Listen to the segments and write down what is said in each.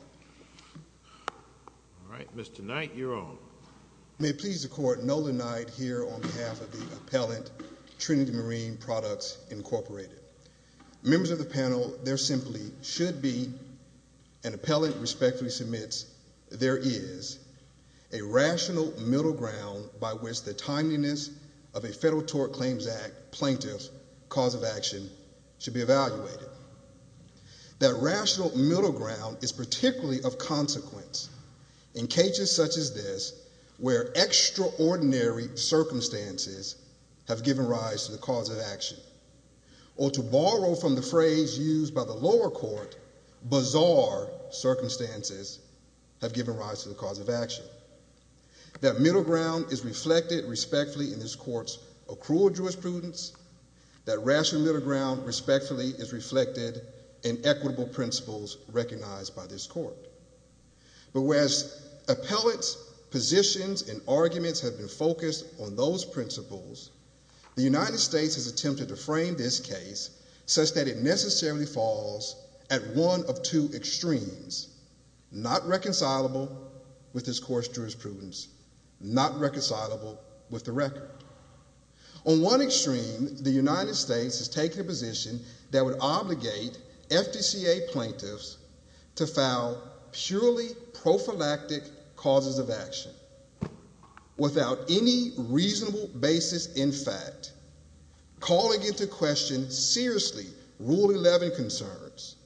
All right, Mr. Knight, you're on. May it please the Court, Nolan Knight here on behalf of the appellant, Trinity Marine Products, Incorporated. Members of the panel, there simply should be, an appellant respectfully submits, there is a rational middle ground by which the timeliness of a Federal Tort Claims Act plaintiff's cause of action should be evaluated. That rational middle ground is particularly of consequence in cases such as this, where extraordinary circumstances have given rise to the cause of action. Or to borrow from the phrase used by the lower court, bizarre circumstances have given rise to the cause of action. That middle ground is reflected respectfully in this Court's accrual of jurisprudence. That rational middle ground respectfully is reflected in equitable principles recognized by this Court. But whereas appellant's positions and arguments have been focused on those principles, the United States has attempted to frame this case such that it necessarily falls at one of two extremes. Not reconcilable with this Court's jurisprudence, not reconcilable with the record. On one extreme, the United States has taken a position that would obligate FDCA plaintiffs to file purely prophylactic causes of action, without any reasonable basis in fact, calling into question seriously Rule 11 concerns.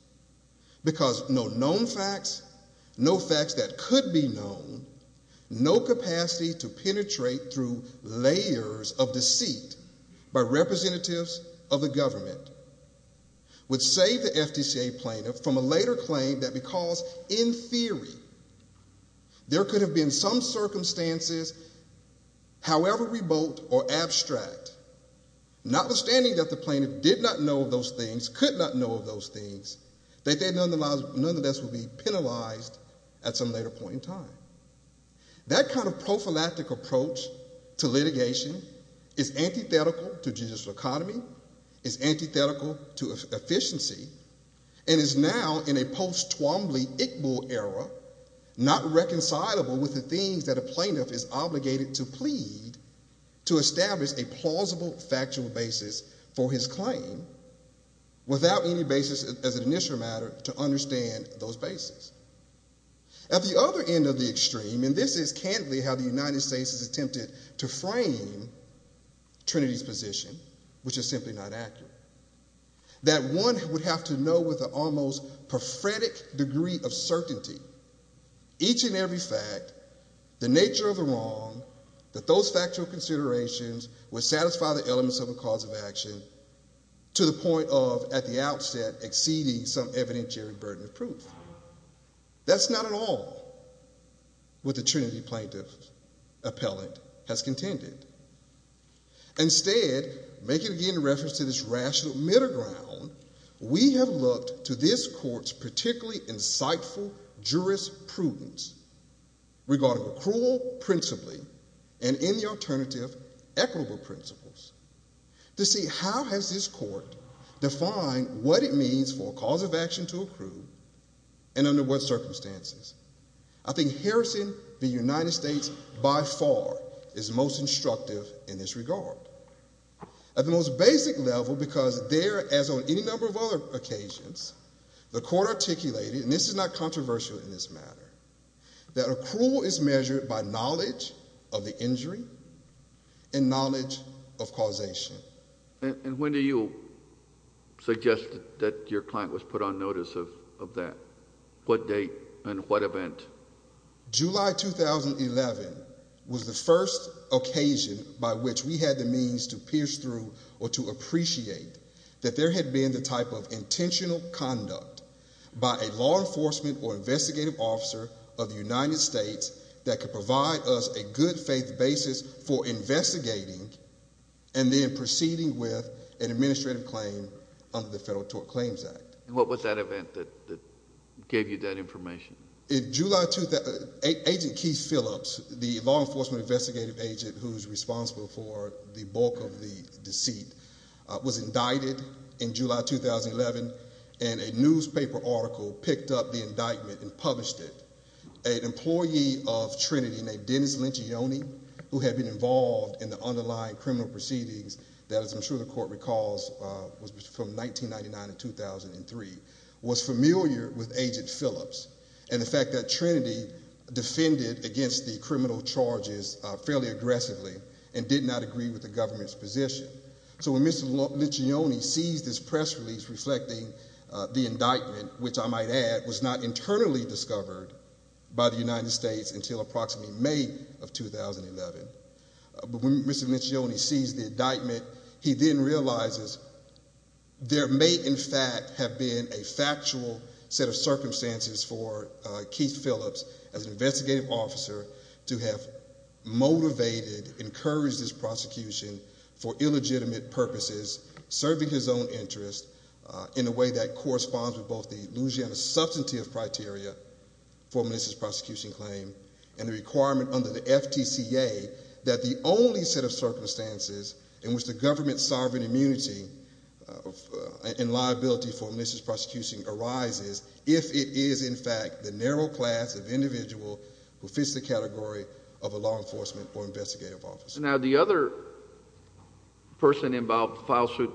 Because no known facts, no facts that could be known, no capacity to penetrate through layers of deceit by representatives of the government, would save the FDCA plaintiff from a later claim that because, in theory, there could have been some circumstances, however remote or abstract, notwithstanding that the plaintiff did not know of those things, could not know of those things, that they nonetheless would be penalized at some later point in time. That kind of prophylactic approach to litigation is antithetical to judicial economy, is antithetical to efficiency, and is now in a post-Twombly-Iqbal era, not reconcilable with the things that a plaintiff is obligated to plead to establish a plausible factual basis for his claim, without any basis as an initial matter to understand those bases. At the other end of the extreme, and this is candidly how the United States has attempted to frame Trinity's position, which is simply not accurate, that one would have to know with an almost prophetic degree of certainty, each and every fact, the nature of the wrong, that those factual considerations would satisfy the elements of a cause of action to the point of, at the outset, exceeding some evidentiary burden of proof. That's not at all what the Trinity plaintiff's appellate has contended. Instead, making again reference to this rational middle ground, we have looked to this court's particularly insightful jurisprudence, regarding accrual principally, and in the alternative, equitable principles, to see how has this court defined what it means for a cause of action to accrue, and under what circumstances. I think Harrison v. United States by far is most instructive in this regard. At the most basic level, because there, as on any number of other occasions, the court articulated, and this is not controversial in this matter, that accrual is measured by knowledge of the injury and knowledge of causation. And when do you suggest that your client was put on notice of that? What date and what event? July 2011 was the first occasion by which we had the means to pierce through or to appreciate that there had been the type of intentional conduct by a law enforcement or investigative officer of the United States that could provide us a good faith basis for investigating and then proceeding with an administrative claim under the Federal Tort Claims Act. And what was that event that gave you that information? Agent Keith Phillips, the law enforcement investigative agent who is responsible for the bulk of the deceit, was indicted in July 2011, and a newspaper article picked up the indictment and published it. An employee of Trinity named Dennis Lencioni, who had been involved in the underlying criminal proceedings, that, as I'm sure the court recalls, was from 1999 to 2003, was familiar with Agent Phillips and the fact that Trinity defended against the criminal charges fairly aggressively and did not agree with the government's position. So when Mr. Lencioni sees this press release reflecting the indictment, which I might add was not internally discovered by the United States until approximately May of 2011, but when Mr. Lencioni sees the indictment, he then realizes there may in fact have been a factual set of circumstances for Keith Phillips as an investigative officer to have motivated, encouraged his prosecution for illegitimate purposes, serving his own interests in a way that corresponds with both the Louisiana substantive criteria for Melissa's prosecution claim and the requirement under the FTCA that the only set of circumstances in which the government's sovereign immunity and liability for Melissa's prosecution arises if it is in fact the narrow class of individual who fits the category of a law enforcement or investigative officer. Now the other person involved in the file suit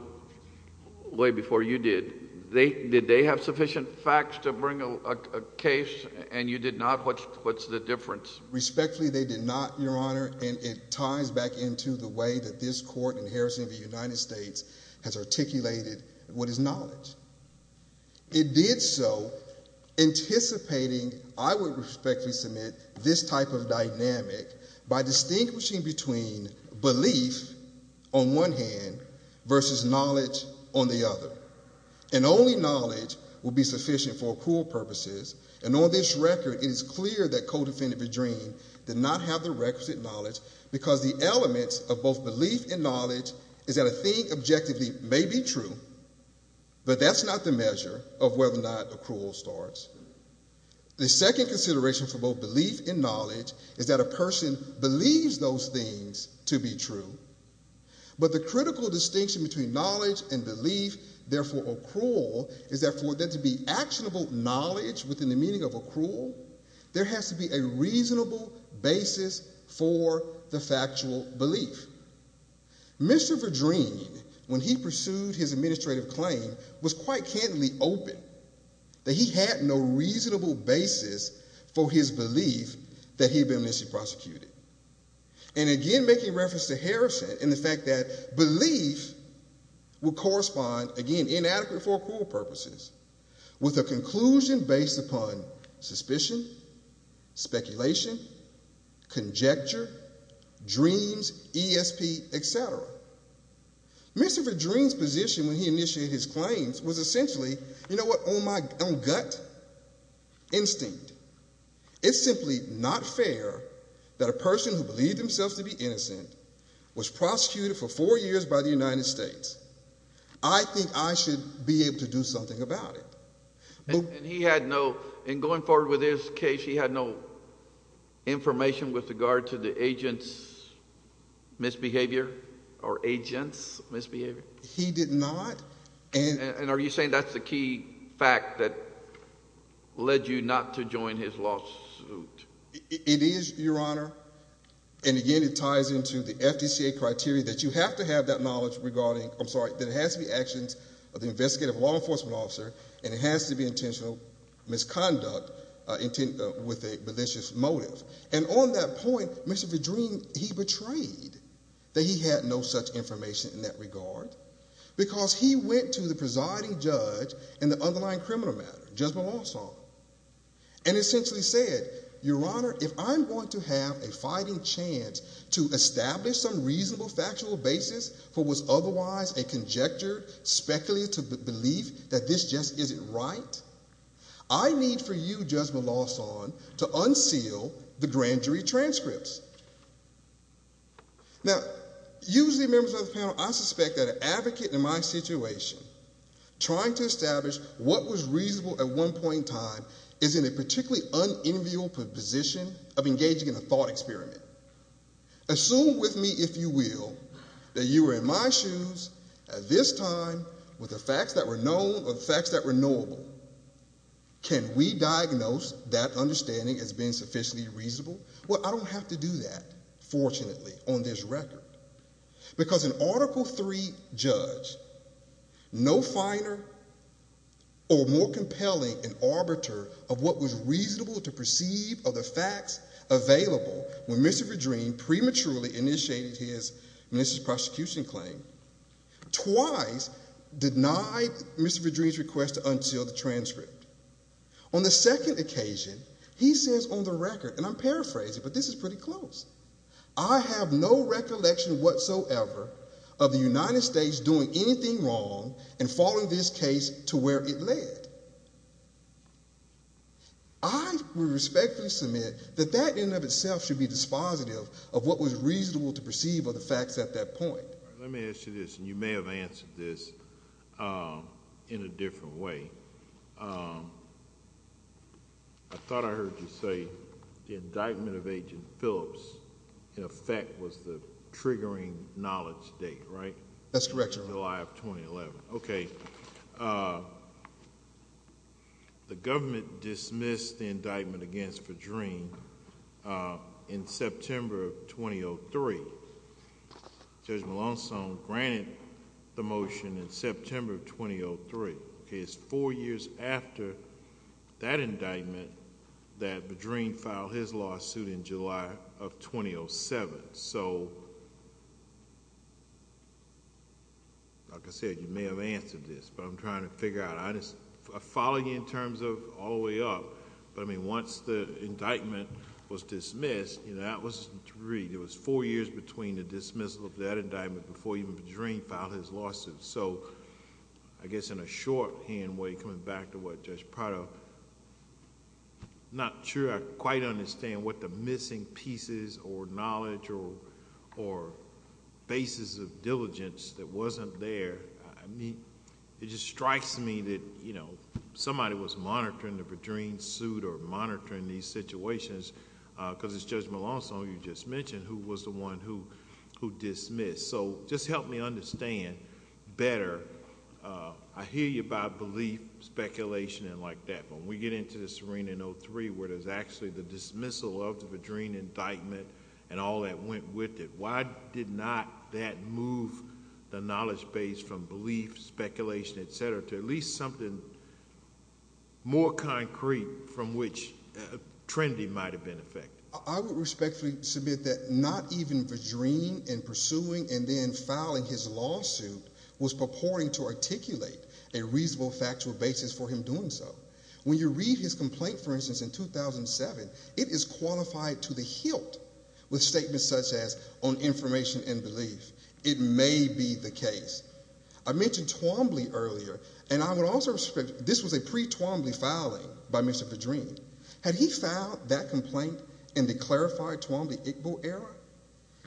way before you did, did they have sufficient facts to bring a case and you did not? What's the difference? Respectfully they did not, Your Honor, and it ties back into the way that this court in Harrison v. United States has articulated what is knowledge. It did so anticipating, I would respectfully submit, this type of dynamic by distinguishing between belief on one hand versus knowledge on the other. And only knowledge will be sufficient for accrual purposes, and on this record it is clear that codefendant Bedrine did not have the requisite knowledge because the elements of both belief and knowledge is that a thing objectively may be true, but that's not the measure of whether or not accrual starts. The second consideration for both belief and knowledge is that a person believes those things to be true, but the critical distinction between knowledge and belief, therefore accrual, is that for there to be actionable knowledge within the meaning of accrual, there has to be a reasonable basis for the factual belief. Mr. Bedrine, when he pursued his administrative claim, was quite candidly open that he had no reasonable basis for his belief that he had been amnesty prosecuted. And again, making reference to Harrison and the fact that belief would correspond, again, inadequate for accrual purposes, with a conclusion based upon suspicion, speculation, conjecture, dreams, ESP, etc. Mr. Bedrine's position when he initiated his claims was essentially, you know what, on gut instinct. It's simply not fair that a person who believed themselves to be innocent was prosecuted for four years by the United States. I think I should be able to do something about it. And he had no, in going forward with his case, he had no information with regard to the agent's misbehavior or agent's misbehavior? He did not. And are you saying that's the key fact that led you not to join his lawsuit? It is, Your Honor. And again, it ties into the FDCA criteria that you have to have that knowledge regarding, I'm sorry, that it has to be actions of the investigative law enforcement officer and it has to be intentional misconduct with a malicious motive. And on that point, Mr. Bedrine, he betrayed that he had no such information in that regard because he went to the presiding judge in the underlying criminal matter, Judge Melanson, and essentially said, Your Honor, if I'm going to have a fighting chance to establish some reasonable factual basis for what was otherwise a conjecture, speculative belief that this just isn't right, I need for you, Judge Melanson, to unseal the grand jury transcripts. Now, usually members of the panel, I suspect that an advocate in my situation, trying to establish what was reasonable at one point in time, is in a particularly unenviable position of engaging in a thought experiment. Assume with me, if you will, that you were in my shoes at this time with the facts that were known or the facts that were knowable. Can we diagnose that understanding as being sufficiently reasonable? Well, I don't have to do that, fortunately, on this record. Because an Article III judge, no finer or more compelling an arbiter of what was reasonable to perceive of the facts available when Mr. Bedrine prematurely initiated his minister's prosecution claim, twice denied Mr. Bedrine's request to unseal the transcript. On the second occasion, he says on the record, and I'm paraphrasing, but this is pretty close, I have no recollection whatsoever of the United States doing anything wrong and following this case to where it led. I respectfully submit that that in and of itself should be dispositive of what was reasonable to perceive of the facts at that point. Let me ask you this, and you may have answered this in a different way. I thought I heard you say the indictment of Agent Phillips, in effect, was the triggering knowledge date, right? That's correct, Your Honor. July of 2011. Okay. The government dismissed the indictment against Bedrine in September of 2003. Judge Malonzo granted the motion in September of 2003. It's four years after that indictment that Bedrine filed his lawsuit in July of 2007. Like I said, you may have answered this, but I'm trying to figure out. I follow you in terms of all the way up, but once the indictment was dismissed, that was three, it was four years between the dismissal of that indictment before even Bedrine filed his lawsuit. I guess in a shorthand way, coming back to what Judge Prado... I'm not sure I quite understand what the missing pieces or knowledge or basis of diligence that wasn't there. It just strikes me that somebody was monitoring the Bedrine suit or monitoring these situations because it's Judge Malonzo you just mentioned who was the one who dismissed. Just help me understand better. I hear you about belief, speculation, and like that. When we get into this arena in 2003 where there's actually the dismissal of the Bedrine indictment and all that went with it, why did not that move the knowledge base from belief, speculation, et cetera, to at least something more concrete from which Trinity might have been affected? I would respectfully submit that not even Bedrine in pursuing and then filing his lawsuit was purporting to articulate a reasonable factual basis for him doing so. When you read his complaint, for instance, in 2007, it is qualified to the hilt with statements such as on information and belief. It may be the case. I mentioned Twombly earlier, and I would also respect... This was a pre-Twombly filing by Mr. Bedrine. Had he filed that complaint in the clarified Twombly-Iqbal era,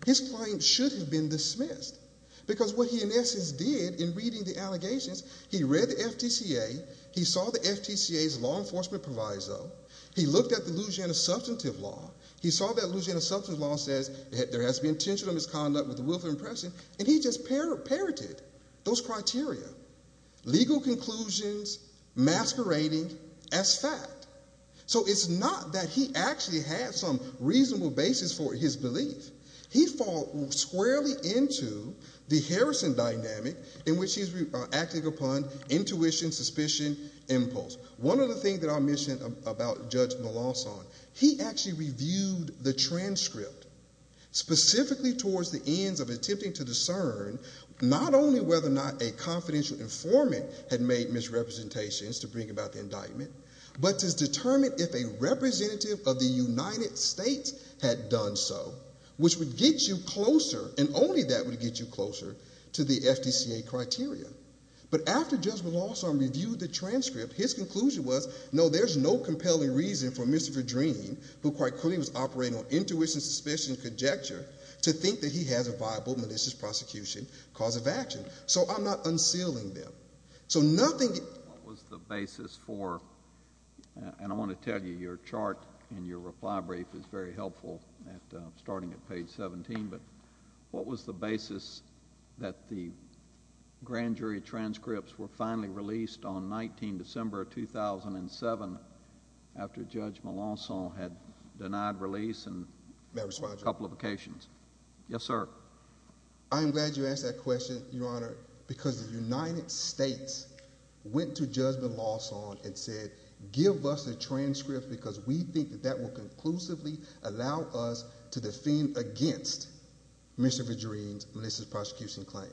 his claim should have been dismissed because what he in essence did in reading the allegations, he read the FTCA, he saw the FTCA's law enforcement proviso, he looked at the Louisiana Substantive Law, he saw that Louisiana Substantive Law says there has to be intentional misconduct with the willful impression, and he just parroted those criteria. Legal conclusions masquerading as fact. So it's not that he actually had some reasonable basis for his belief. He fall squarely into the Harrison dynamic in which he's acting upon intuition, suspicion, impulse. One of the things that I mentioned about Judge Melanson, he actually reviewed the transcript specifically towards the ends of attempting to discern not only whether or not a confidential informant had made misrepresentations to bring about the indictment, but to determine if a representative of the United States had done so, which would get you closer, and only that would get you closer to the FTCA criteria. But after Judge Melanson reviewed the transcript, his conclusion was, no, there's no compelling reason for Mr. Bedrine, who quite clearly was operating on intuition, suspicion, and conjecture, to think that he has a viable malicious prosecution cause of action. So I'm not unsealing them. What was the basis for, and I want to tell you your chart in your reply brief is very helpful, starting at page 17, but what was the basis that the grand jury transcripts were finally released on 19 December 2007 after Judge Melanson had denied release on a couple of occasions? Yes, sir. I'm glad you asked that question, Your Honor, because the United States went to Judge Melanson and said, give us the transcript because we think that that will conclusively allow us to defend against Mr. Bedrine's malicious prosecution claim.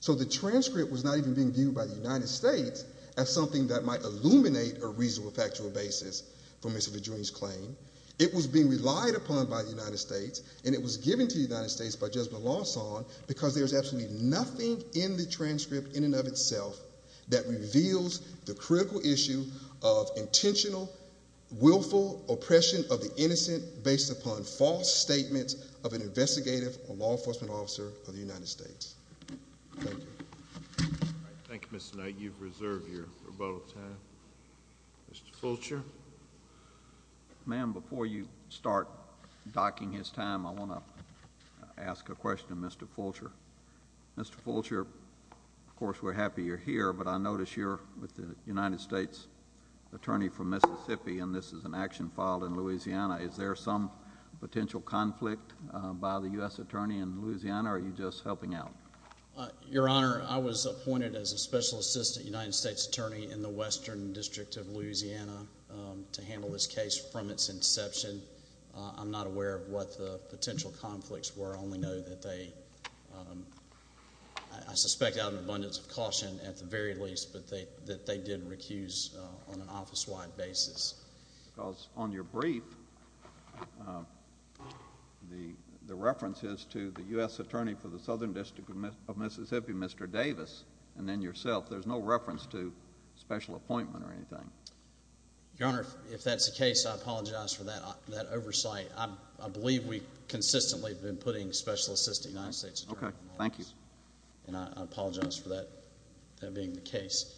So the transcript was not even being viewed by the United States as something that might illuminate a reasonable factual basis for Mr. Bedrine's claim. It was being relied upon by the United States, and it was given to the United States by Judge Melanson because there's absolutely nothing in the transcript in and of itself that reveals the critical issue of intentional, willful oppression of the innocent based upon false statements of an investigative or law enforcement officer of the United States. Thank you. Thank you, Mr. Knight. You've reserved your rebuttal time. Mr. Fulcher? Ma'am, before you start docking his time, I want to ask a question of Mr. Fulcher. Mr. Fulcher, of course, we're happy you're here, but I notice you're with the United States Attorney for Mississippi, and this is an action filed in Louisiana. Is there some potential conflict by the U.S. Attorney in Louisiana, or are you just helping out? Your Honor, I was appointed as a Special Assistant United States Attorney in the Western District of Louisiana to handle this case from its inception. I'm not aware of what the potential conflicts were. I only know that they, I suspect out of abundance of caution at the very least, but that they did recuse on an office-wide basis. Because on your brief, the reference is to the U.S. Attorney for the Southern District of Mississippi, Mr. Davis, and then yourself. There's no reference to special appointment or anything. Your Honor, if that's the case, I apologize for that oversight. I believe we consistently have been putting Special Assistant United States Attorney. Okay. Thank you. And I apologize for that being the case.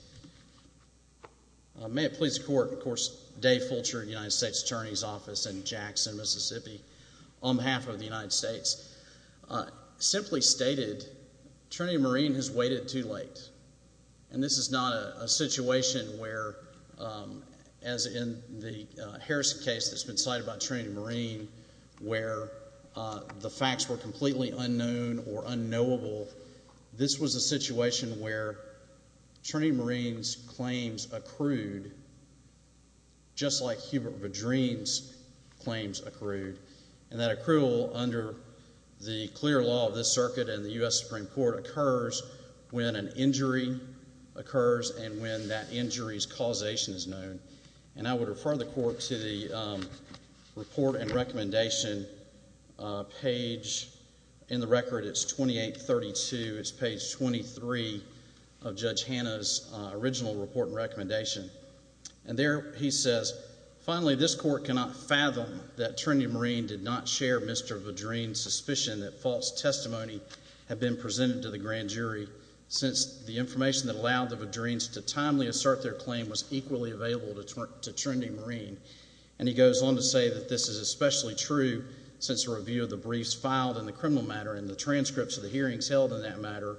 May it please the Court, of course, Dave Fulcher, United States Attorney's Office in Jackson, Mississippi, on behalf of the United States, simply stated, Trinity Marine has waited too late. And this is not a situation where, as in the Harrison case that's been cited about Trinity Marine, where the facts were completely unknown or unknowable. This was a situation where Trinity Marine's claims accrued just like Hubert Vadrin's claims accrued. And that accrual under the clear law of this circuit in the U.S. Supreme Court occurs when an injury occurs and when that injury's causation is known. And I would refer the Court to the report and recommendation page. In the record, it's 2832. It's page 23 of Judge Hanna's original report and recommendation. And there he says, Finally, this Court cannot fathom that Trinity Marine did not share Mr. Vadrin's suspicion that false testimony had been presented to the grand jury, since the information that allowed the Vadrins to timely assert their claim was equally available to Trinity Marine. And he goes on to say that this is especially true since a review of the briefs filed in the criminal matter and the transcripts of the hearings held in that matter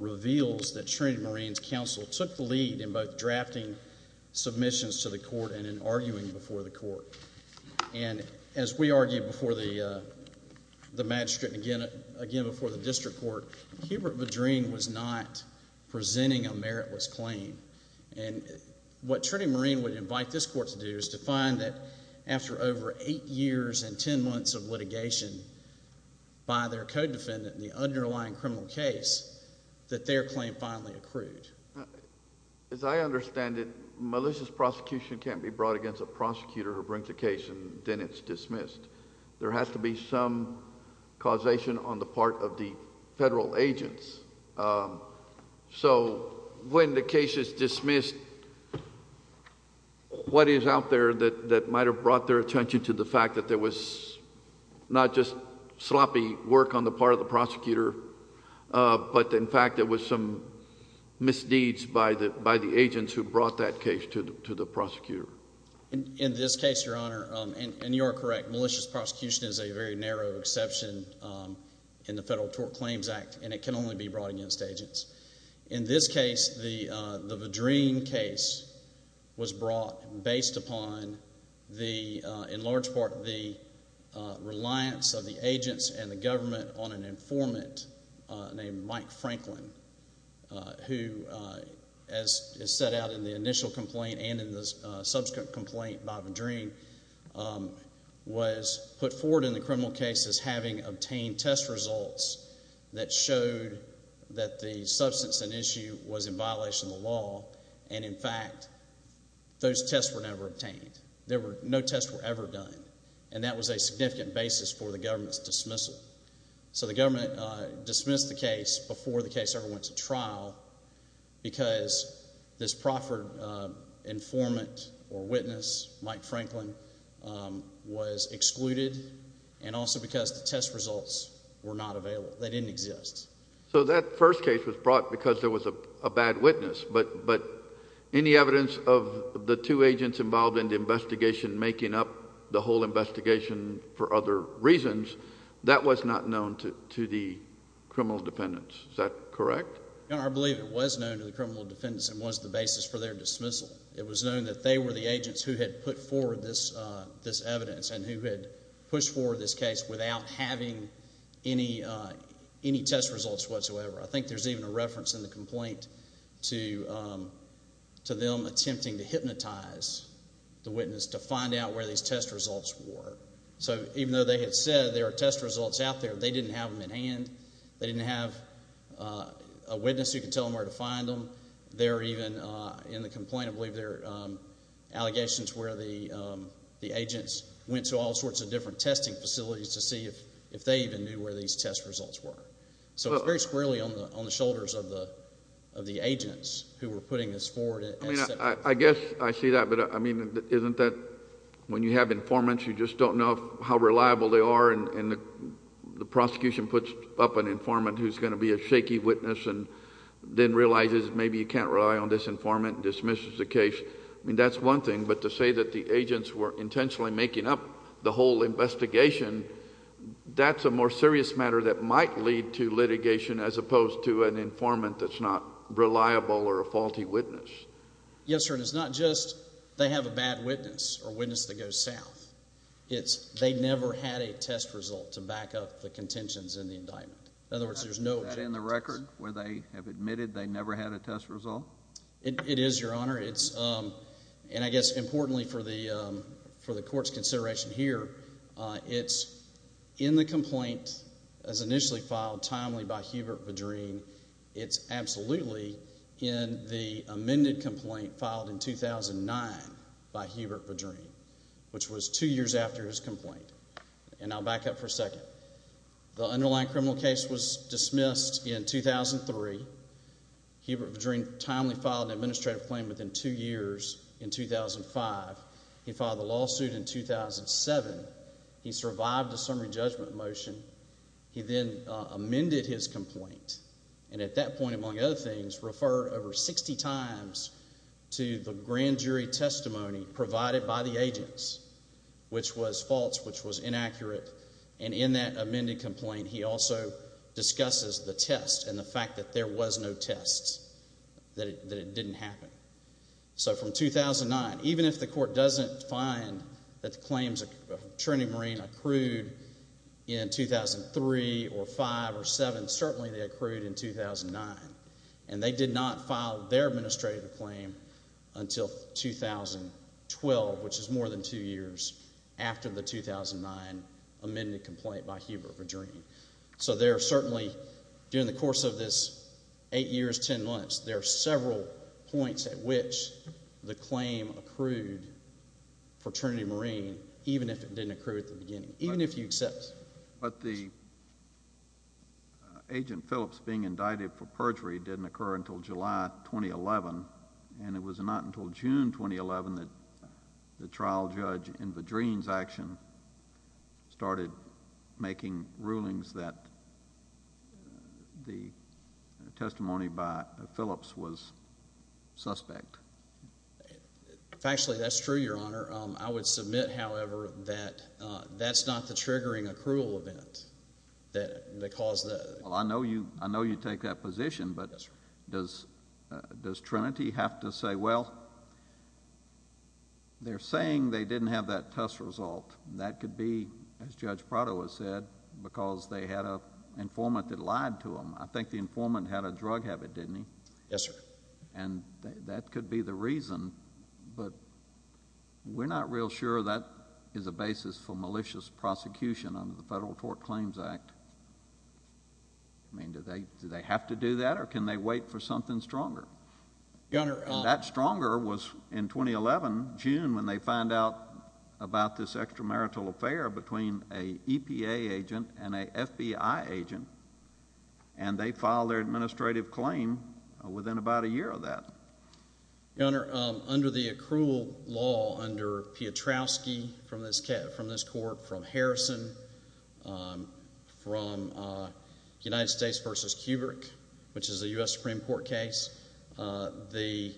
reveals that Trinity Marine's counsel took the lead in both drafting submissions to the Court and in arguing before the Court. And as we argued before the magistrate and again before the district court, Hubert Vadrin was not presenting a meritless claim. And what Trinity Marine would invite this Court to do is to find that after over eight years and ten months of litigation by their code defendant in the underlying criminal case, that their claim finally accrued. As I understand it, malicious prosecution can't be brought against a prosecutor who brings a case and then it's dismissed. There has to be some causation on the part of the federal agents. So when the case is dismissed, what is out there that might have brought their attention to the fact that there was not just sloppy work on the part of the prosecutor, but in fact there was some misdeeds by the agents who brought that case to the prosecutor. In this case, Your Honor, and you are correct, malicious prosecution is a very narrow exception in the Federal Tort Claims Act and it can only be brought against agents. In this case, the Vadrin case was brought based upon the, in large part, the reliance of the agents and the government on an informant named Mike Franklin, who, as is set out in the initial complaint and in the subsequent complaint by Vadrin, was put forward in the criminal case as having obtained test results that showed that the substance and issue was in violation of the law and in fact those tests were never obtained. There were, no tests were ever done. And that was a significant basis for the government's dismissal. So the government dismissed the case before the case ever went to trial because this proffered informant or witness, Mike Franklin, was excluded and also because the test results were not available. They didn't exist. So that first case was brought because there was a bad witness, but any evidence of the two agents involved in the investigation making up the whole investigation for other reasons, that was not known to the criminal defendants. Is that correct? I believe it was known to the criminal defendants and was the basis for their dismissal. It was known that they were the agents who had put forward this evidence and who had pushed forward this case without having any test results whatsoever. I think there's even a reference in the complaint to them attempting to hypnotize the witness to find out where these test results were. So even though they had said there were test results out there, they didn't have them in hand. They didn't have a witness who could tell them where to find them. There are even, in the complaint, I believe there are allegations where the agents went to all sorts of different testing facilities to see if they even knew where these test results were. So it's very squarely on the shoulders of the agents who were putting this forward. I guess I see that, but isn't that when you have informants you just don't know how reliable they are and the prosecution puts up an informant who's going to be a shaky witness and then realizes maybe you can't rely on this informant and dismisses the case. That's one thing, but to say that the agents were intentionally making up the whole investigation, that's a more serious matter that might lead to litigation as opposed to an informant that's not reliable or a faulty witness. Yes, sir, and it's not just they have a bad witness or a witness that goes south. It's they never had a test result to back up the contentions in the indictment. In other words, there's no test result. Is that in the record where they have admitted they never had a test result? It is, Your Honor. And I guess importantly for the court's consideration here, it's in the complaint as initially filed timely by Hubert Vadreen. It's absolutely in the amended complaint filed in 2009 by Hubert Vadreen, which was two years after his complaint, and I'll back up for a second. The underlying criminal case was dismissed in 2003. Hubert Vadreen timely filed an administrative claim within two years in 2005. He filed a lawsuit in 2007. He survived a summary judgment motion. He then amended his complaint and at that point, among other things, referred over 60 times to the grand jury testimony provided by the agents, which was false, which was inaccurate. And in that amended complaint, he also discusses the test and the fact that there was no test, that it didn't happen. So from 2009, even if the court doesn't find that the claims of Trinity Marine accrued in 2003 or 2005 or 2007, certainly they accrued in 2009, and they did not file their administrative claim until 2012, which is more than two years after the 2009 amended complaint by Hubert Vadreen. So there are certainly, during the course of this eight years, ten months, there are several points at which the claim accrued for Trinity Marine, even if it didn't accrue at the beginning, even if you accept it. But the agent Phillips being indicted for perjury didn't occur until July 2011, and it was not until June 2011 that the trial judge in Vadreen's action started making rulings that the testimony by Phillips was suspect. Actually, that's true, Your Honor. I would submit, however, that that's not the triggering accrual event that caused the— Well, I know you take that position, but does Trinity have to say, well, they're saying they didn't have that test result. That could be, as Judge Prado has said, because they had an informant that lied to them. I think the informant had a drug habit, didn't he? Yes, sir. And that could be the reason, but we're not real sure that is a basis for malicious prosecution under the Federal Tort Claims Act. I mean, do they have to do that, or can they wait for something stronger? Your Honor— And that stronger was in 2011, June, when they find out about this extramarital affair between a EPA agent and a FBI agent, and they filed their administrative claim within about a year of that. Your Honor, under the accrual law under Piotrowski from this court, from Harrison, from United States v. Kubrick, which is a U.S. Supreme Court case, the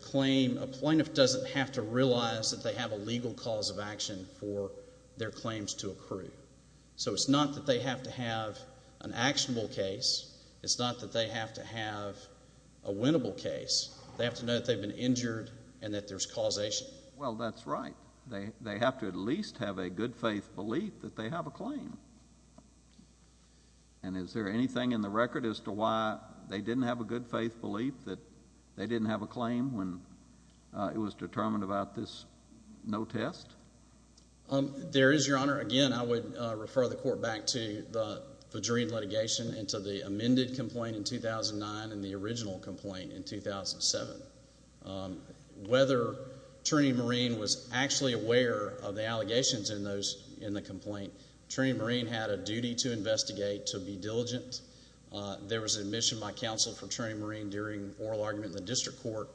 claim—a plaintiff doesn't have to realize that they have a legal cause of action for their claims to accrue. So it's not that they have to have an actionable case. It's not that they have to have a winnable case. They have to know that they've been injured and that there's causation. Well, that's right. They have to at least have a good-faith belief that they have a claim. And is there anything in the record as to why they didn't have a good-faith belief that they didn't have a claim when it was determined about this no test? There is, Your Honor. Again, I would refer the Court back to the Vajreen litigation and to the amended complaint in 2009 and the original complaint in 2007. Whether Trini Marine was actually aware of the allegations in the complaint, Trini Marine had a duty to investigate, to be diligent. There was admission by counsel for Trini Marine during oral argument in the district court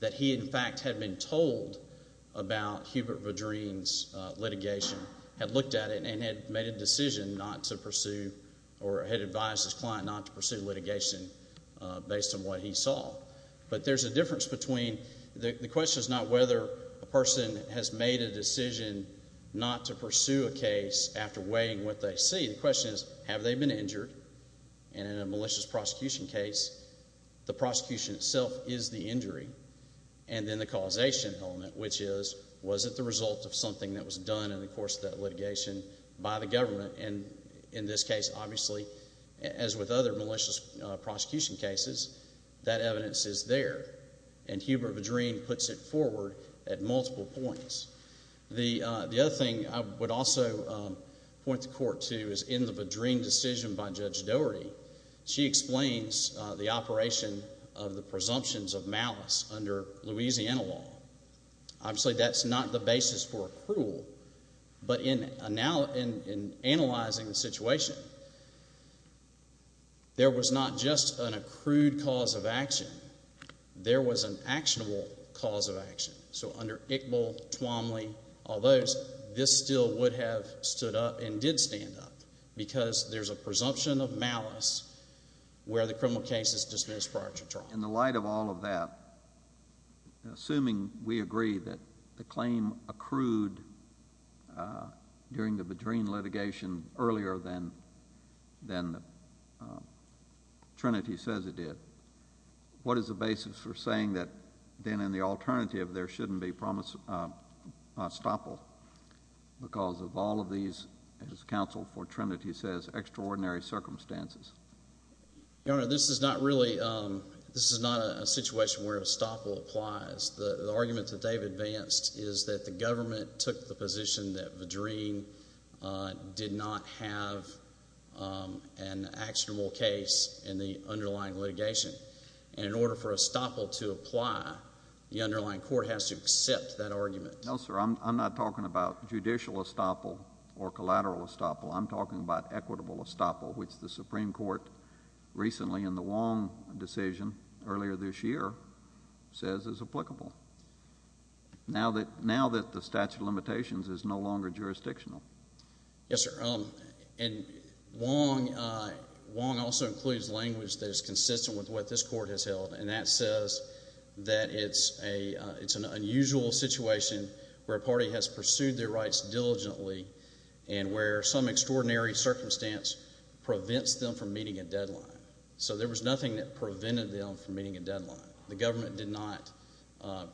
that he, in fact, had been told about Hubert Vajreen's litigation, had looked at it, and had made a decision not to pursue or had advised his client not to pursue litigation based on what he saw. But there's a difference between the question is not whether a person has made a decision not to pursue a case after weighing what they see. The question is, have they been injured? And in a malicious prosecution case, the prosecution itself is the injury. And then the causation element, which is, was it the result of something that was done in the course of that litigation by the government? And in this case, obviously, as with other malicious prosecution cases, that evidence is there. And Hubert Vajreen puts it forward at multiple points. The other thing I would also point the court to is in the Vajreen decision by Judge Doherty, she explains the operation of the presumptions of malice under Louisiana law. But in analyzing the situation, there was not just an accrued cause of action. There was an actionable cause of action. So under Iqbal, Twomley, all those, this still would have stood up and did stand up because there's a presumption of malice where the criminal case is dismissed prior to trial. So in the light of all of that, assuming we agree that the claim accrued during the Vajreen litigation earlier than Trinity says it did, what is the basis for saying that then in the alternative there shouldn't be promised estoppel because of all of these, as counsel for Trinity says, extraordinary circumstances? Your Honor, this is not really, this is not a situation where estoppel applies. The argument that Dave advanced is that the government took the position that Vajreen did not have an actionable case in the underlying litigation. And in order for estoppel to apply, the underlying court has to accept that argument. No, sir. I'm not talking about judicial estoppel or collateral estoppel. I'm talking about equitable estoppel, which the Supreme Court recently in the Wong decision earlier this year says is applicable now that the statute of limitations is no longer jurisdictional. Yes, sir. And Wong also includes language that is consistent with what this court has held, and that says that it's an unusual situation where a party has pursued their rights diligently and where some extraordinary circumstance prevents them from meeting a deadline. So there was nothing that prevented them from meeting a deadline. The government did not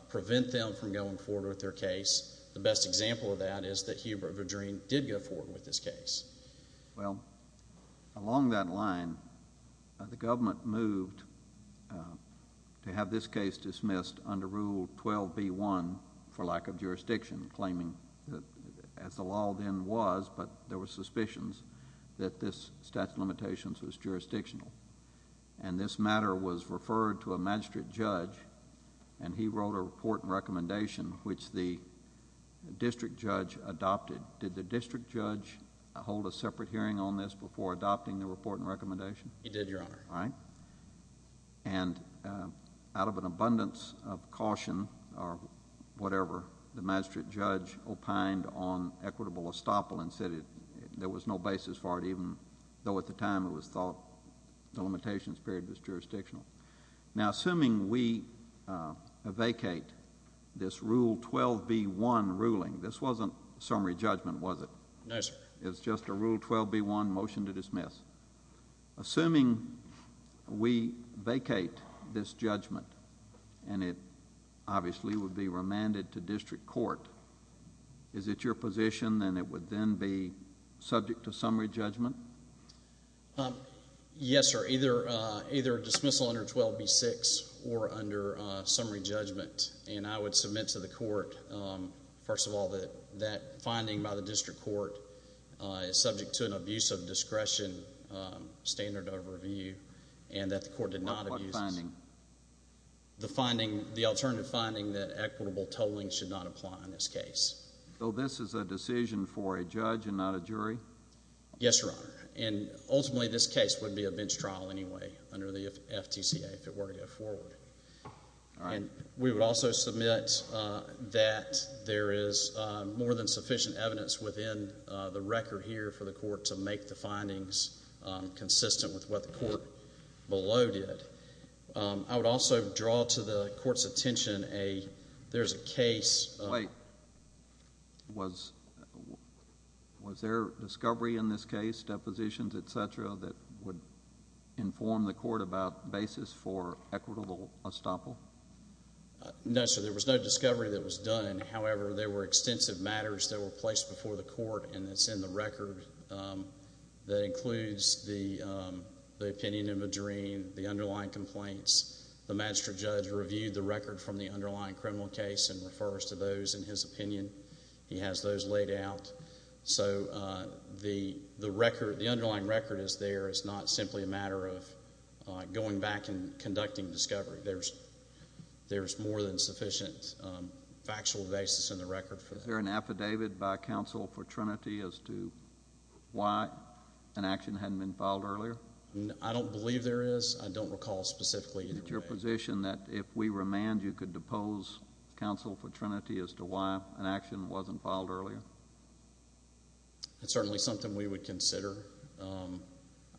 prevent them from going forward with their case. The best example of that is that Hubert Vajreen did go forward with his case. Well, along that line, the government moved to have this case dismissed under Rule 12b-1 for lack of jurisdiction, claiming, as the law then was, but there were suspicions that this statute of limitations was jurisdictional. And this matter was referred to a magistrate judge, and he wrote a report and recommendation, which the district judge adopted. Did the district judge hold a separate hearing on this before adopting the report and recommendation? He did, Your Honor. And out of an abundance of caution or whatever, the magistrate judge opined on equitable estoppel and said there was no basis for it, even though at the time it was thought the limitations period was jurisdictional. Now, assuming we vacate this Rule 12b-1 ruling, this wasn't summary judgment, was it? No, sir. It's just a Rule 12b-1 motion to dismiss. Assuming we vacate this judgment and it obviously would be remanded to district court, is it your position that it would then be subject to summary judgment? Yes, sir. Either dismissal under 12b-6 or under summary judgment. And I would submit to the court, first of all, that that finding by the district court is subject to an abuse of discretion standard of review and that the court did not abuse it. What finding? The finding, the alternative finding that equitable tolling should not apply in this case. So this is a decision for a judge and not a jury? Yes, Your Honor. And ultimately this case would be a bench trial anyway under the FTCA if it were to go forward. All right. We would also submit that there is more than sufficient evidence within the record here for the court to make the findings consistent with what the court below did. I would also draw to the court's attention, there's a case... Wait. Was there discovery in this case, depositions, et cetera, that would inform the court about basis for equitable estoppel? No, sir. There was no discovery that was done. However, there were extensive matters that were placed before the court, and it's in the record that includes the opinion of a jury, the underlying complaints. The magistrate judge reviewed the record from the underlying criminal case and refers to those in his opinion. He has those laid out. So the underlying record is there. It's not simply a matter of going back and conducting discovery. There's more than sufficient factual basis in the record for that. Is there an affidavit by counsel for Trinity as to why an action hadn't been filed earlier? I don't believe there is. I don't recall specifically. Is it your position that if we remand, you could depose counsel for Trinity as to why an action wasn't filed earlier? It's certainly something we would consider.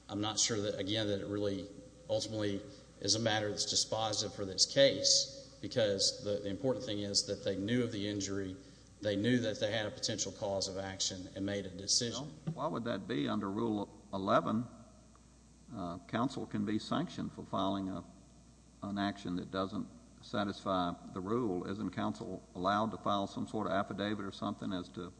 I'm not sure, again, that it really ultimately is a matter that's dispositive for this case because the important thing is that they knew of the injury. They knew that they had a potential cause of action and made a decision. Well, why would that be under Rule 11? Counsel can be sanctioned for filing an action that doesn't satisfy the rule. Isn't counsel allowed to file some sort of affidavit or something as to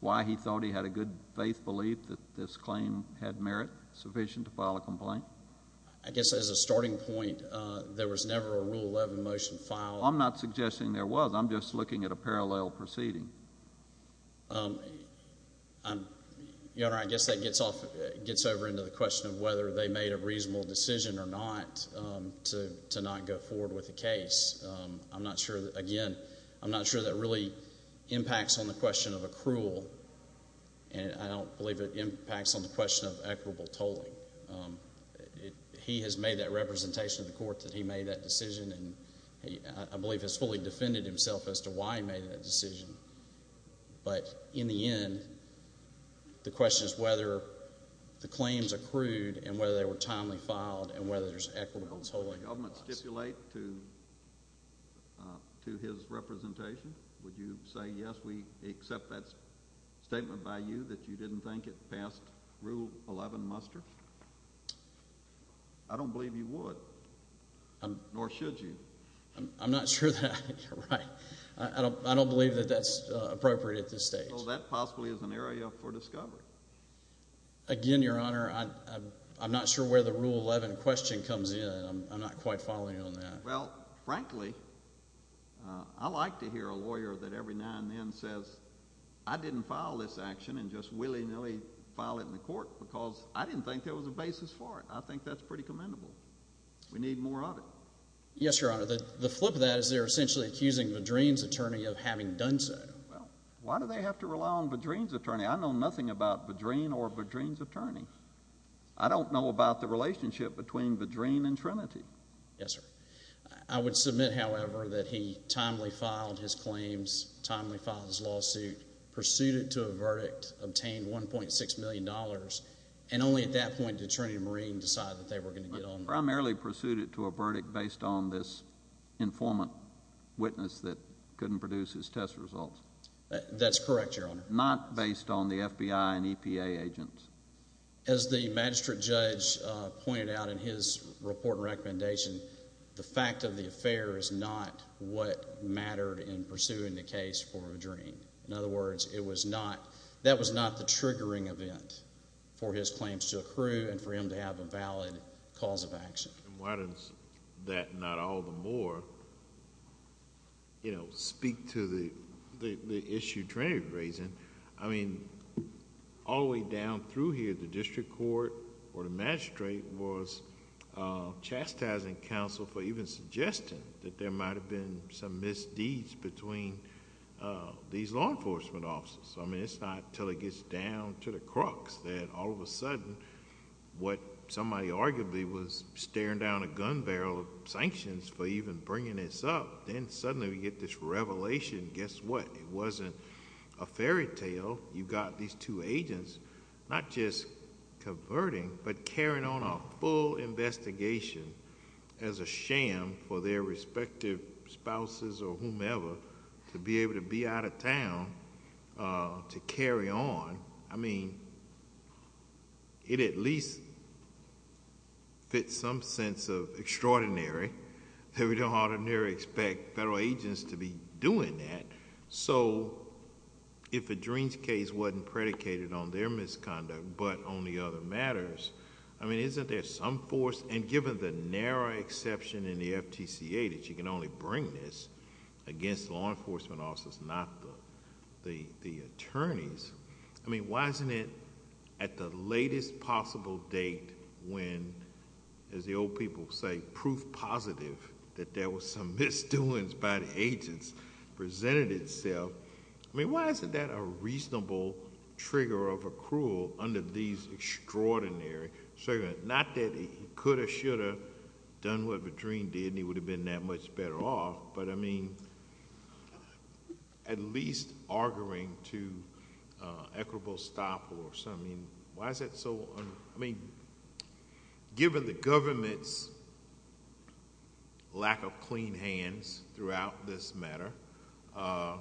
why he thought he had a good faith belief that this claim had merit sufficient to file a complaint? I guess as a starting point, there was never a Rule 11 motion filed. I'm not suggesting there was. I'm just looking at a parallel proceeding. Your Honor, I guess that gets over into the question of whether they made a reasonable decision or not to not go forward with the case. Again, I'm not sure that really impacts on the question of accrual, and I don't believe it impacts on the question of equitable tolling. He has made that representation in the court that he made that decision, and I believe has fully defended himself as to why he made that decision. But in the end, the question is whether the claims accrued and whether they were timely filed and whether there's equitable tolling. Would the government stipulate to his representation? Would you say, yes, we accept that statement by you that you didn't think it passed Rule 11 muster? I don't believe you would, nor should you. I'm not sure that you're right. I don't believe that that's appropriate at this stage. Well, that possibly is an area for discovery. Again, Your Honor, I'm not sure where the Rule 11 question comes in. I'm not quite following you on that. Well, frankly, I like to hear a lawyer that every now and then says, I didn't file this action and just willy-nilly file it in the court because I didn't think there was a basis for it. I think that's pretty commendable. We need more of it. Yes, Your Honor. The flip of that is they're essentially accusing Vadreen's attorney of having done so. Well, why do they have to rely on Vadreen's attorney? I know nothing about Vadreen or Vadreen's attorney. I don't know about the relationship between Vadreen and Trinity. Yes, sir. I would submit, however, that he timely filed his claims, timely filed his lawsuit, pursued it to a verdict, obtained $1.6 million, and only at that point did Trinity and Vadreen decide that they were going to get on with it. Primarily pursued it to a verdict based on this informant witness that couldn't produce his test results. That's correct, Your Honor. Not based on the FBI and EPA agents. As the magistrate judge pointed out in his report and recommendation, the fact of the affair is not what mattered in pursuing the case for Vadreen. In other words, that was not the triggering event for his claims to accrue and for him to have a valid cause of action. Why does that not all the more speak to the issue Trinity was raising? All the way down through here, the district court or the magistrate was chastising counsel for even suggesting that there might have been some misdeeds between these law enforcement officers. It's not until it gets down to the crux that all of a sudden, what somebody arguably was staring down a gun barrel of sanctions for even bringing this up, then suddenly we get this revelation. Guess what? It wasn't a fairy tale. You've got these two agents not just converting, but carrying on a full investigation as a sham for their respective spouses or whomever to be able to be out of town to carry on. I mean, it at least fits some sense of extraordinary that we don't ordinarily expect federal agents to be doing that. If Vadreen's case wasn't predicated on their misconduct, but on the other matters, I mean, isn't there some force, and given the narrow exception in the FTCA that you can only bring this against law enforcement officers, not the attorneys. I mean, why isn't it at the latest possible date when, as the old people say, there's a proof positive that there was some misdoings by the agents presented itself. I mean, why isn't that a reasonable trigger of accrual under these extraordinary circumstances? Not that he could have, should have done what Vadreen did, and he would have been that much better off, but, I mean, at least arguing to equitable stop or something. I mean, why is that so? I mean, given the government's lack of clean hands throughout this matter, I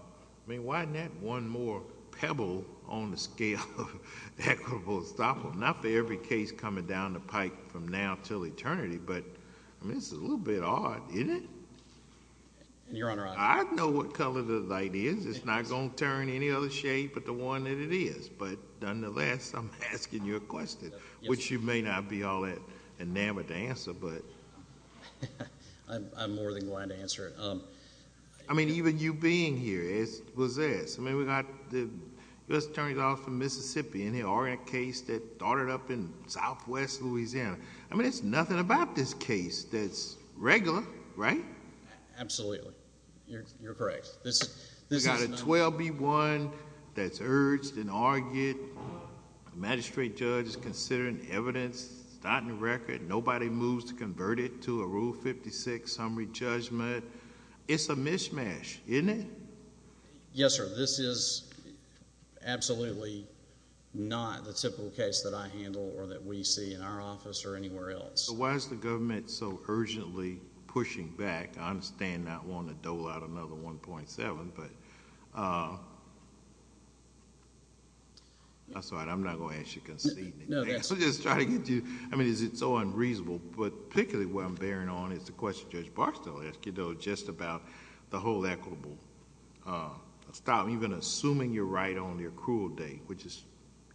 mean, why isn't that one more pebble on the scale of equitable stop? Not for every case coming down the pike from now until eternity, but, I mean, this is a little bit odd, isn't it? Your Honor, I... I know what color the light is. It's not going to turn any other shade but the one that it is, but, nonetheless, I'm asking you a question, which you may not be all that enamored to answer, but... I'm more than glad to answer it. I mean, even you being here, it's possessed. I mean, we got the U.S. Attorney's Office of Mississippi in here, or in a case that started up in southwest Louisiana. I mean, there's nothing about this case that's regular, right? Absolutely. You're correct. You've got a 12B1 that's urged and argued. The magistrate judge is considering the evidence. It's not in the record. Nobody moves to convert it to a Rule 56 summary judgment. It's a mishmash, isn't it? Yes, sir. This is absolutely not the typical case that I handle or that we see in our office or anywhere else. So why is the government so urgently pushing back? I understand not wanting to dole out another 1.7, but... I'm sorry. I'm not going to ask you to concede. No, that's... I'm just trying to get you... I mean, is it so unreasonable? But particularly what I'm bearing on is the question Judge Barstow asked you, though, just about the whole equitable... Stop, even assuming you're right on the accrual date, which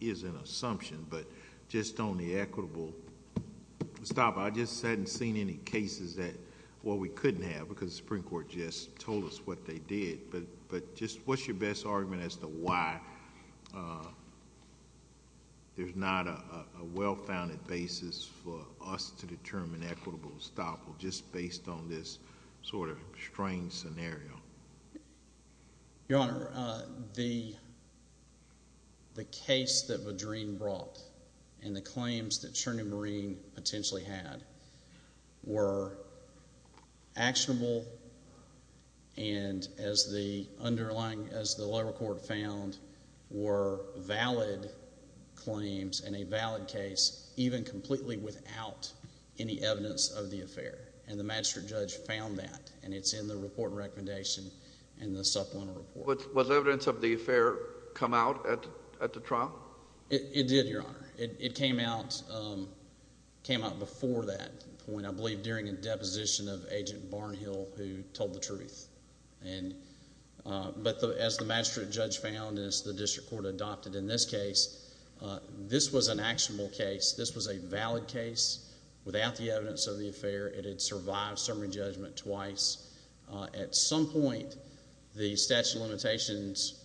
is an assumption, but just on the equitable... Stop. I just hadn't seen any cases that... Well, we couldn't have because the Supreme Court just told us what they did, but just what's your best argument as to why there's not a well-founded basis for us to determine equitable stop just based on this sort of strange scenario? Your Honor, the case that Vadreen brought and the claims that Chernew Marine potentially had were actionable and as the underlying... as the lower court found, were valid claims and a valid case, even completely without any evidence of the affair, and the magistrate judge found that, and it's in the report and recommendation in the supplemental report. Was evidence of the affair come out at the trial? It did, Your Honor. It came out before that point, I believe, during a deposition of Agent Barnhill who told the truth. But as the magistrate judge found and as the district court adopted in this case, this was an actionable case. This was a valid case without the evidence of the affair. It had survived summary judgment twice. At some point, the statute of limitations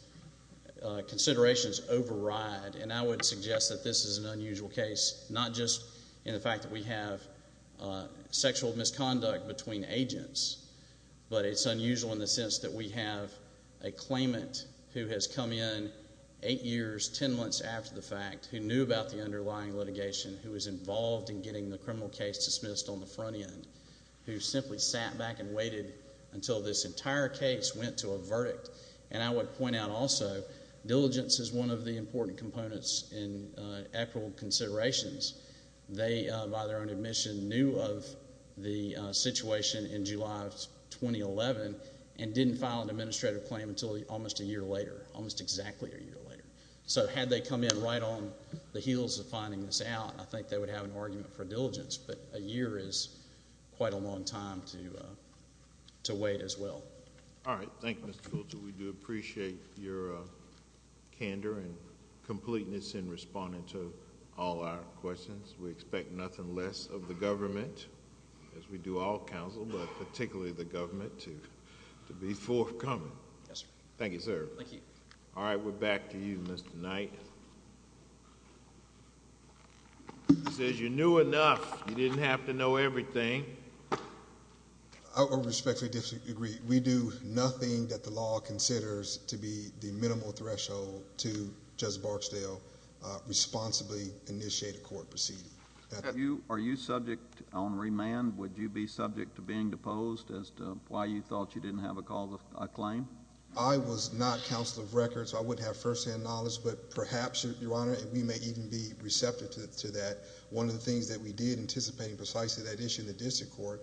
considerations override, and I would suggest that this is an unusual case, not just in the fact that we have sexual misconduct between agents, but it's unusual in the sense that we have a claimant who has come in eight years, ten months after the fact, who knew about the underlying litigation, who was involved in getting the criminal case dismissed on the front end, who simply sat back and waited until this entire case went to a verdict. And I would point out also, diligence is one of the important components in equitable considerations. They, by their own admission, knew of the situation in July of 2011 and didn't file an administrative claim until almost a year later, almost exactly a year later. So had they come in right on the heels of finding this out, I think they would have an argument for diligence. But a year is quite a long time to wait as well. All right. Thank you, Mr. Fulcher. We do appreciate your candor and completeness in responding to all our questions. We expect nothing less of the government, as we do all counsel, but particularly the government, to be forthcoming. Yes, sir. Thank you, sir. Thank you. All right. We're back to you, Mr. Knight. He says you knew enough. You didn't have to know everything. I respectfully disagree. We do nothing that the law considers to be the minimal threshold to Judge Barksdale responsibly initiate a court proceeding. Are you subject on remand? Would you be subject to being deposed as to why you thought you didn't have a claim? I was not counsel of records, so I wouldn't have firsthand knowledge. But perhaps, Your Honor, we may even be receptive to that. One of the things that we did, anticipating precisely that issue in the district court,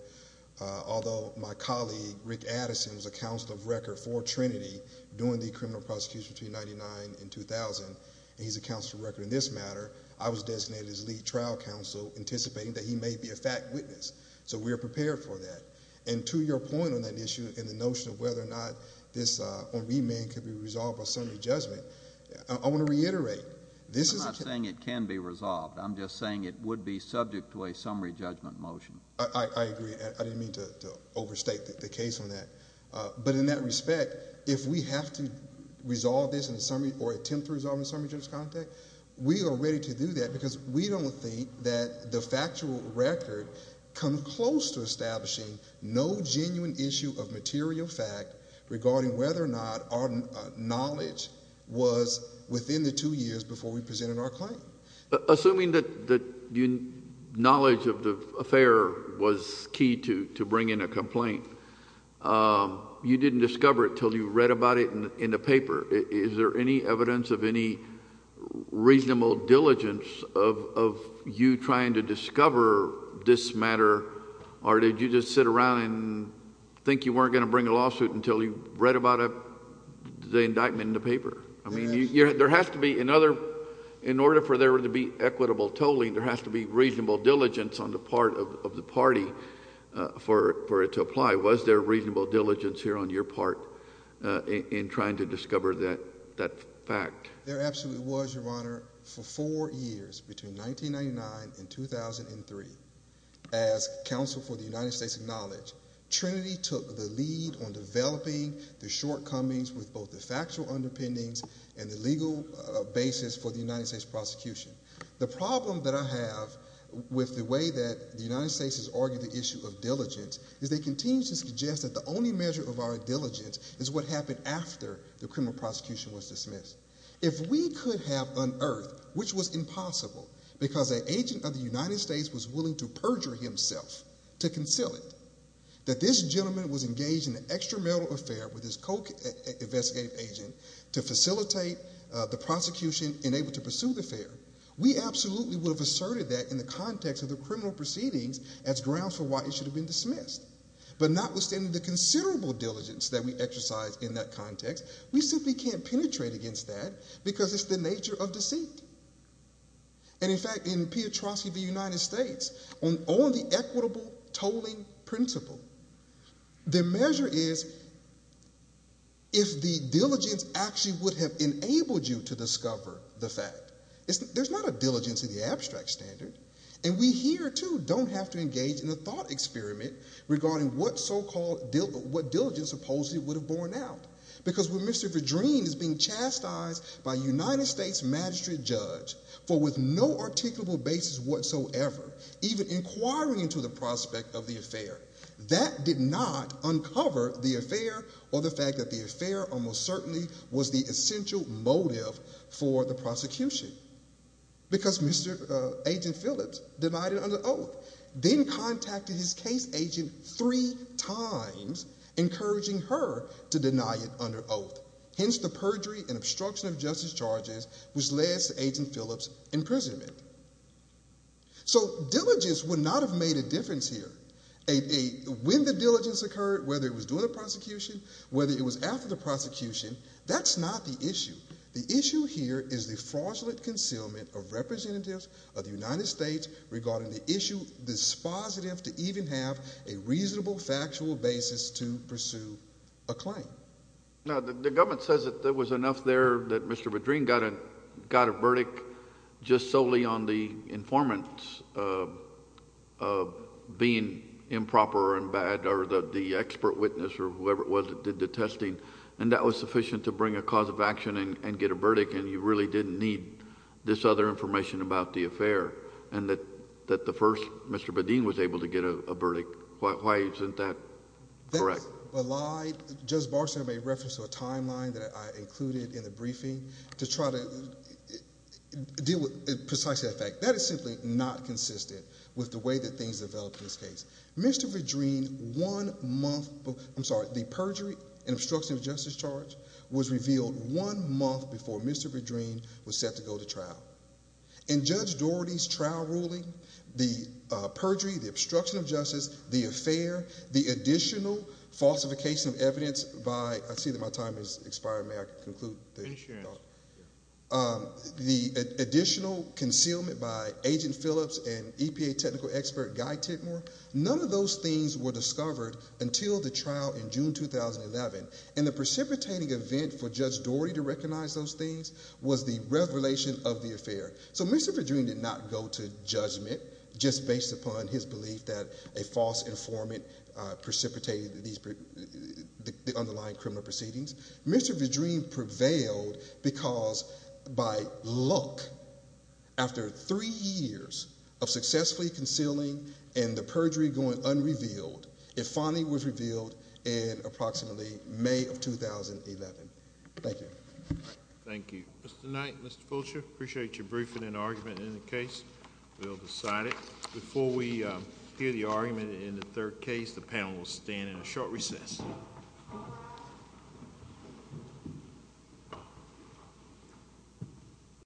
although my colleague, Rick Addison, was a counsel of record for Trinity during the criminal prosecution between 1999 and 2000, and he's a counsel of record in this matter, I was designated as lead trial counsel, anticipating that he may be a fact witness. So we are prepared for that. And to your point on that issue and the notion of whether or not this remand could be resolved by summary judgment, I want to reiterate. I'm not saying it can be resolved. I'm just saying it would be subject to a summary judgment motion. I agree. I didn't mean to overstate the case on that. But in that respect, if we have to resolve this in a summary or attempt to resolve it in a summary judgment context, we are ready to do that because we don't think that the factual record comes close to establishing no genuine issue of material fact regarding whether or not our knowledge was within the two years before we presented our claim. Assuming that knowledge of the affair was key to bringing a complaint, you didn't discover it until you read about it in the paper. Is there any evidence of any reasonable diligence of you trying to discover this matter, or did you just sit around and think you weren't going to bring a lawsuit until you read about the indictment in the paper? I mean, in order for there to be equitable tolling, there has to be reasonable diligence on the part of the party for it to apply. Was there reasonable diligence here on your part in trying to discover that fact? There absolutely was, Your Honor. For four years, between 1999 and 2003, as counsel for the United States acknowledged, Trinity took the lead on developing the shortcomings with both the factual underpinnings and the legal basis for the United States prosecution. The problem that I have with the way that the United States has argued the issue of diligence is they continue to suggest that the only measure of our diligence is what happened after the criminal prosecution was dismissed. If we could have unearthed, which was impossible because an agent of the United States was willing to perjure himself to conceal it, that this gentleman was engaged in an extramarital affair with his co-investigative agent to facilitate the prosecution and able to pursue the affair, we absolutely would have asserted that in the context of the criminal proceedings as grounds for why it should have been dismissed. But notwithstanding the considerable diligence that we exercise in that context, we simply can't penetrate against that because it's the nature of deceit. In fact, in Piotrowski v. United States, on all the equitable tolling principle, the measure is if the diligence actually would have enabled you to discover the fact. There's not a diligence in the abstract standard. And we here, too, don't have to engage in a thought experiment regarding what diligence supposedly would have borne out. Because when Mr. Verdrine is being chastised by a United States magistrate judge, for with no articulable basis whatsoever, even inquiring into the prospect of the affair, that did not uncover the affair or the fact that the affair almost certainly was the essential motive for the prosecution. Because Agent Phillips denied it under oath. Then contacted his case agent three times, encouraging her to deny it under oath. Hence the perjury and obstruction of justice charges which led to Agent Phillips' imprisonment. So diligence would not have made a difference here. When the diligence occurred, whether it was during the prosecution, whether it was after the prosecution, that's not the issue. The issue here is the fraudulent concealment of representatives of the United States regarding the issue dispositive to even have a reasonable factual basis to pursue a claim. The government says that there was enough there that Mr. Verdrine got a verdict just solely on the informants being improper and bad or the expert witness or whoever it was that did the testing, and that was sufficient to bring a cause of action and get a verdict, and you really didn't need this other information about the affair, and that the first Mr. Verdrine was able to get a verdict. Why isn't that correct? That's a lie. Judge Barksdale made reference to a timeline that I included in the briefing to try to deal with precisely that fact. That is simply not consistent with the way that things develop in this case. Mr. Verdrine, the perjury and obstruction of justice charge was revealed one month before Mr. Verdrine was set to go to trial. In Judge Doherty's trial ruling, the perjury, the obstruction of justice, the affair, the additional falsification of evidence by the additional concealment by Agent Phillips and EPA technical expert Guy Tidmore, none of those things were discovered until the trial in June 2011, and the precipitating event for Judge Doherty to recognize those things was the revelation of the affair. So Mr. Verdrine did not go to judgment just based upon his belief that a false informant precipitated the underlying criminal proceedings. Mr. Verdrine prevailed because by luck, after three years of successfully concealing and the perjury going unrevealed, it finally was revealed in approximately May of 2011. Thank you. Thank you. Mr. Knight, Mr. Fulcher, I appreciate your briefing and argument in the case. We'll decide it. Before we hear the argument in the third case, the panel will stand in a short recess.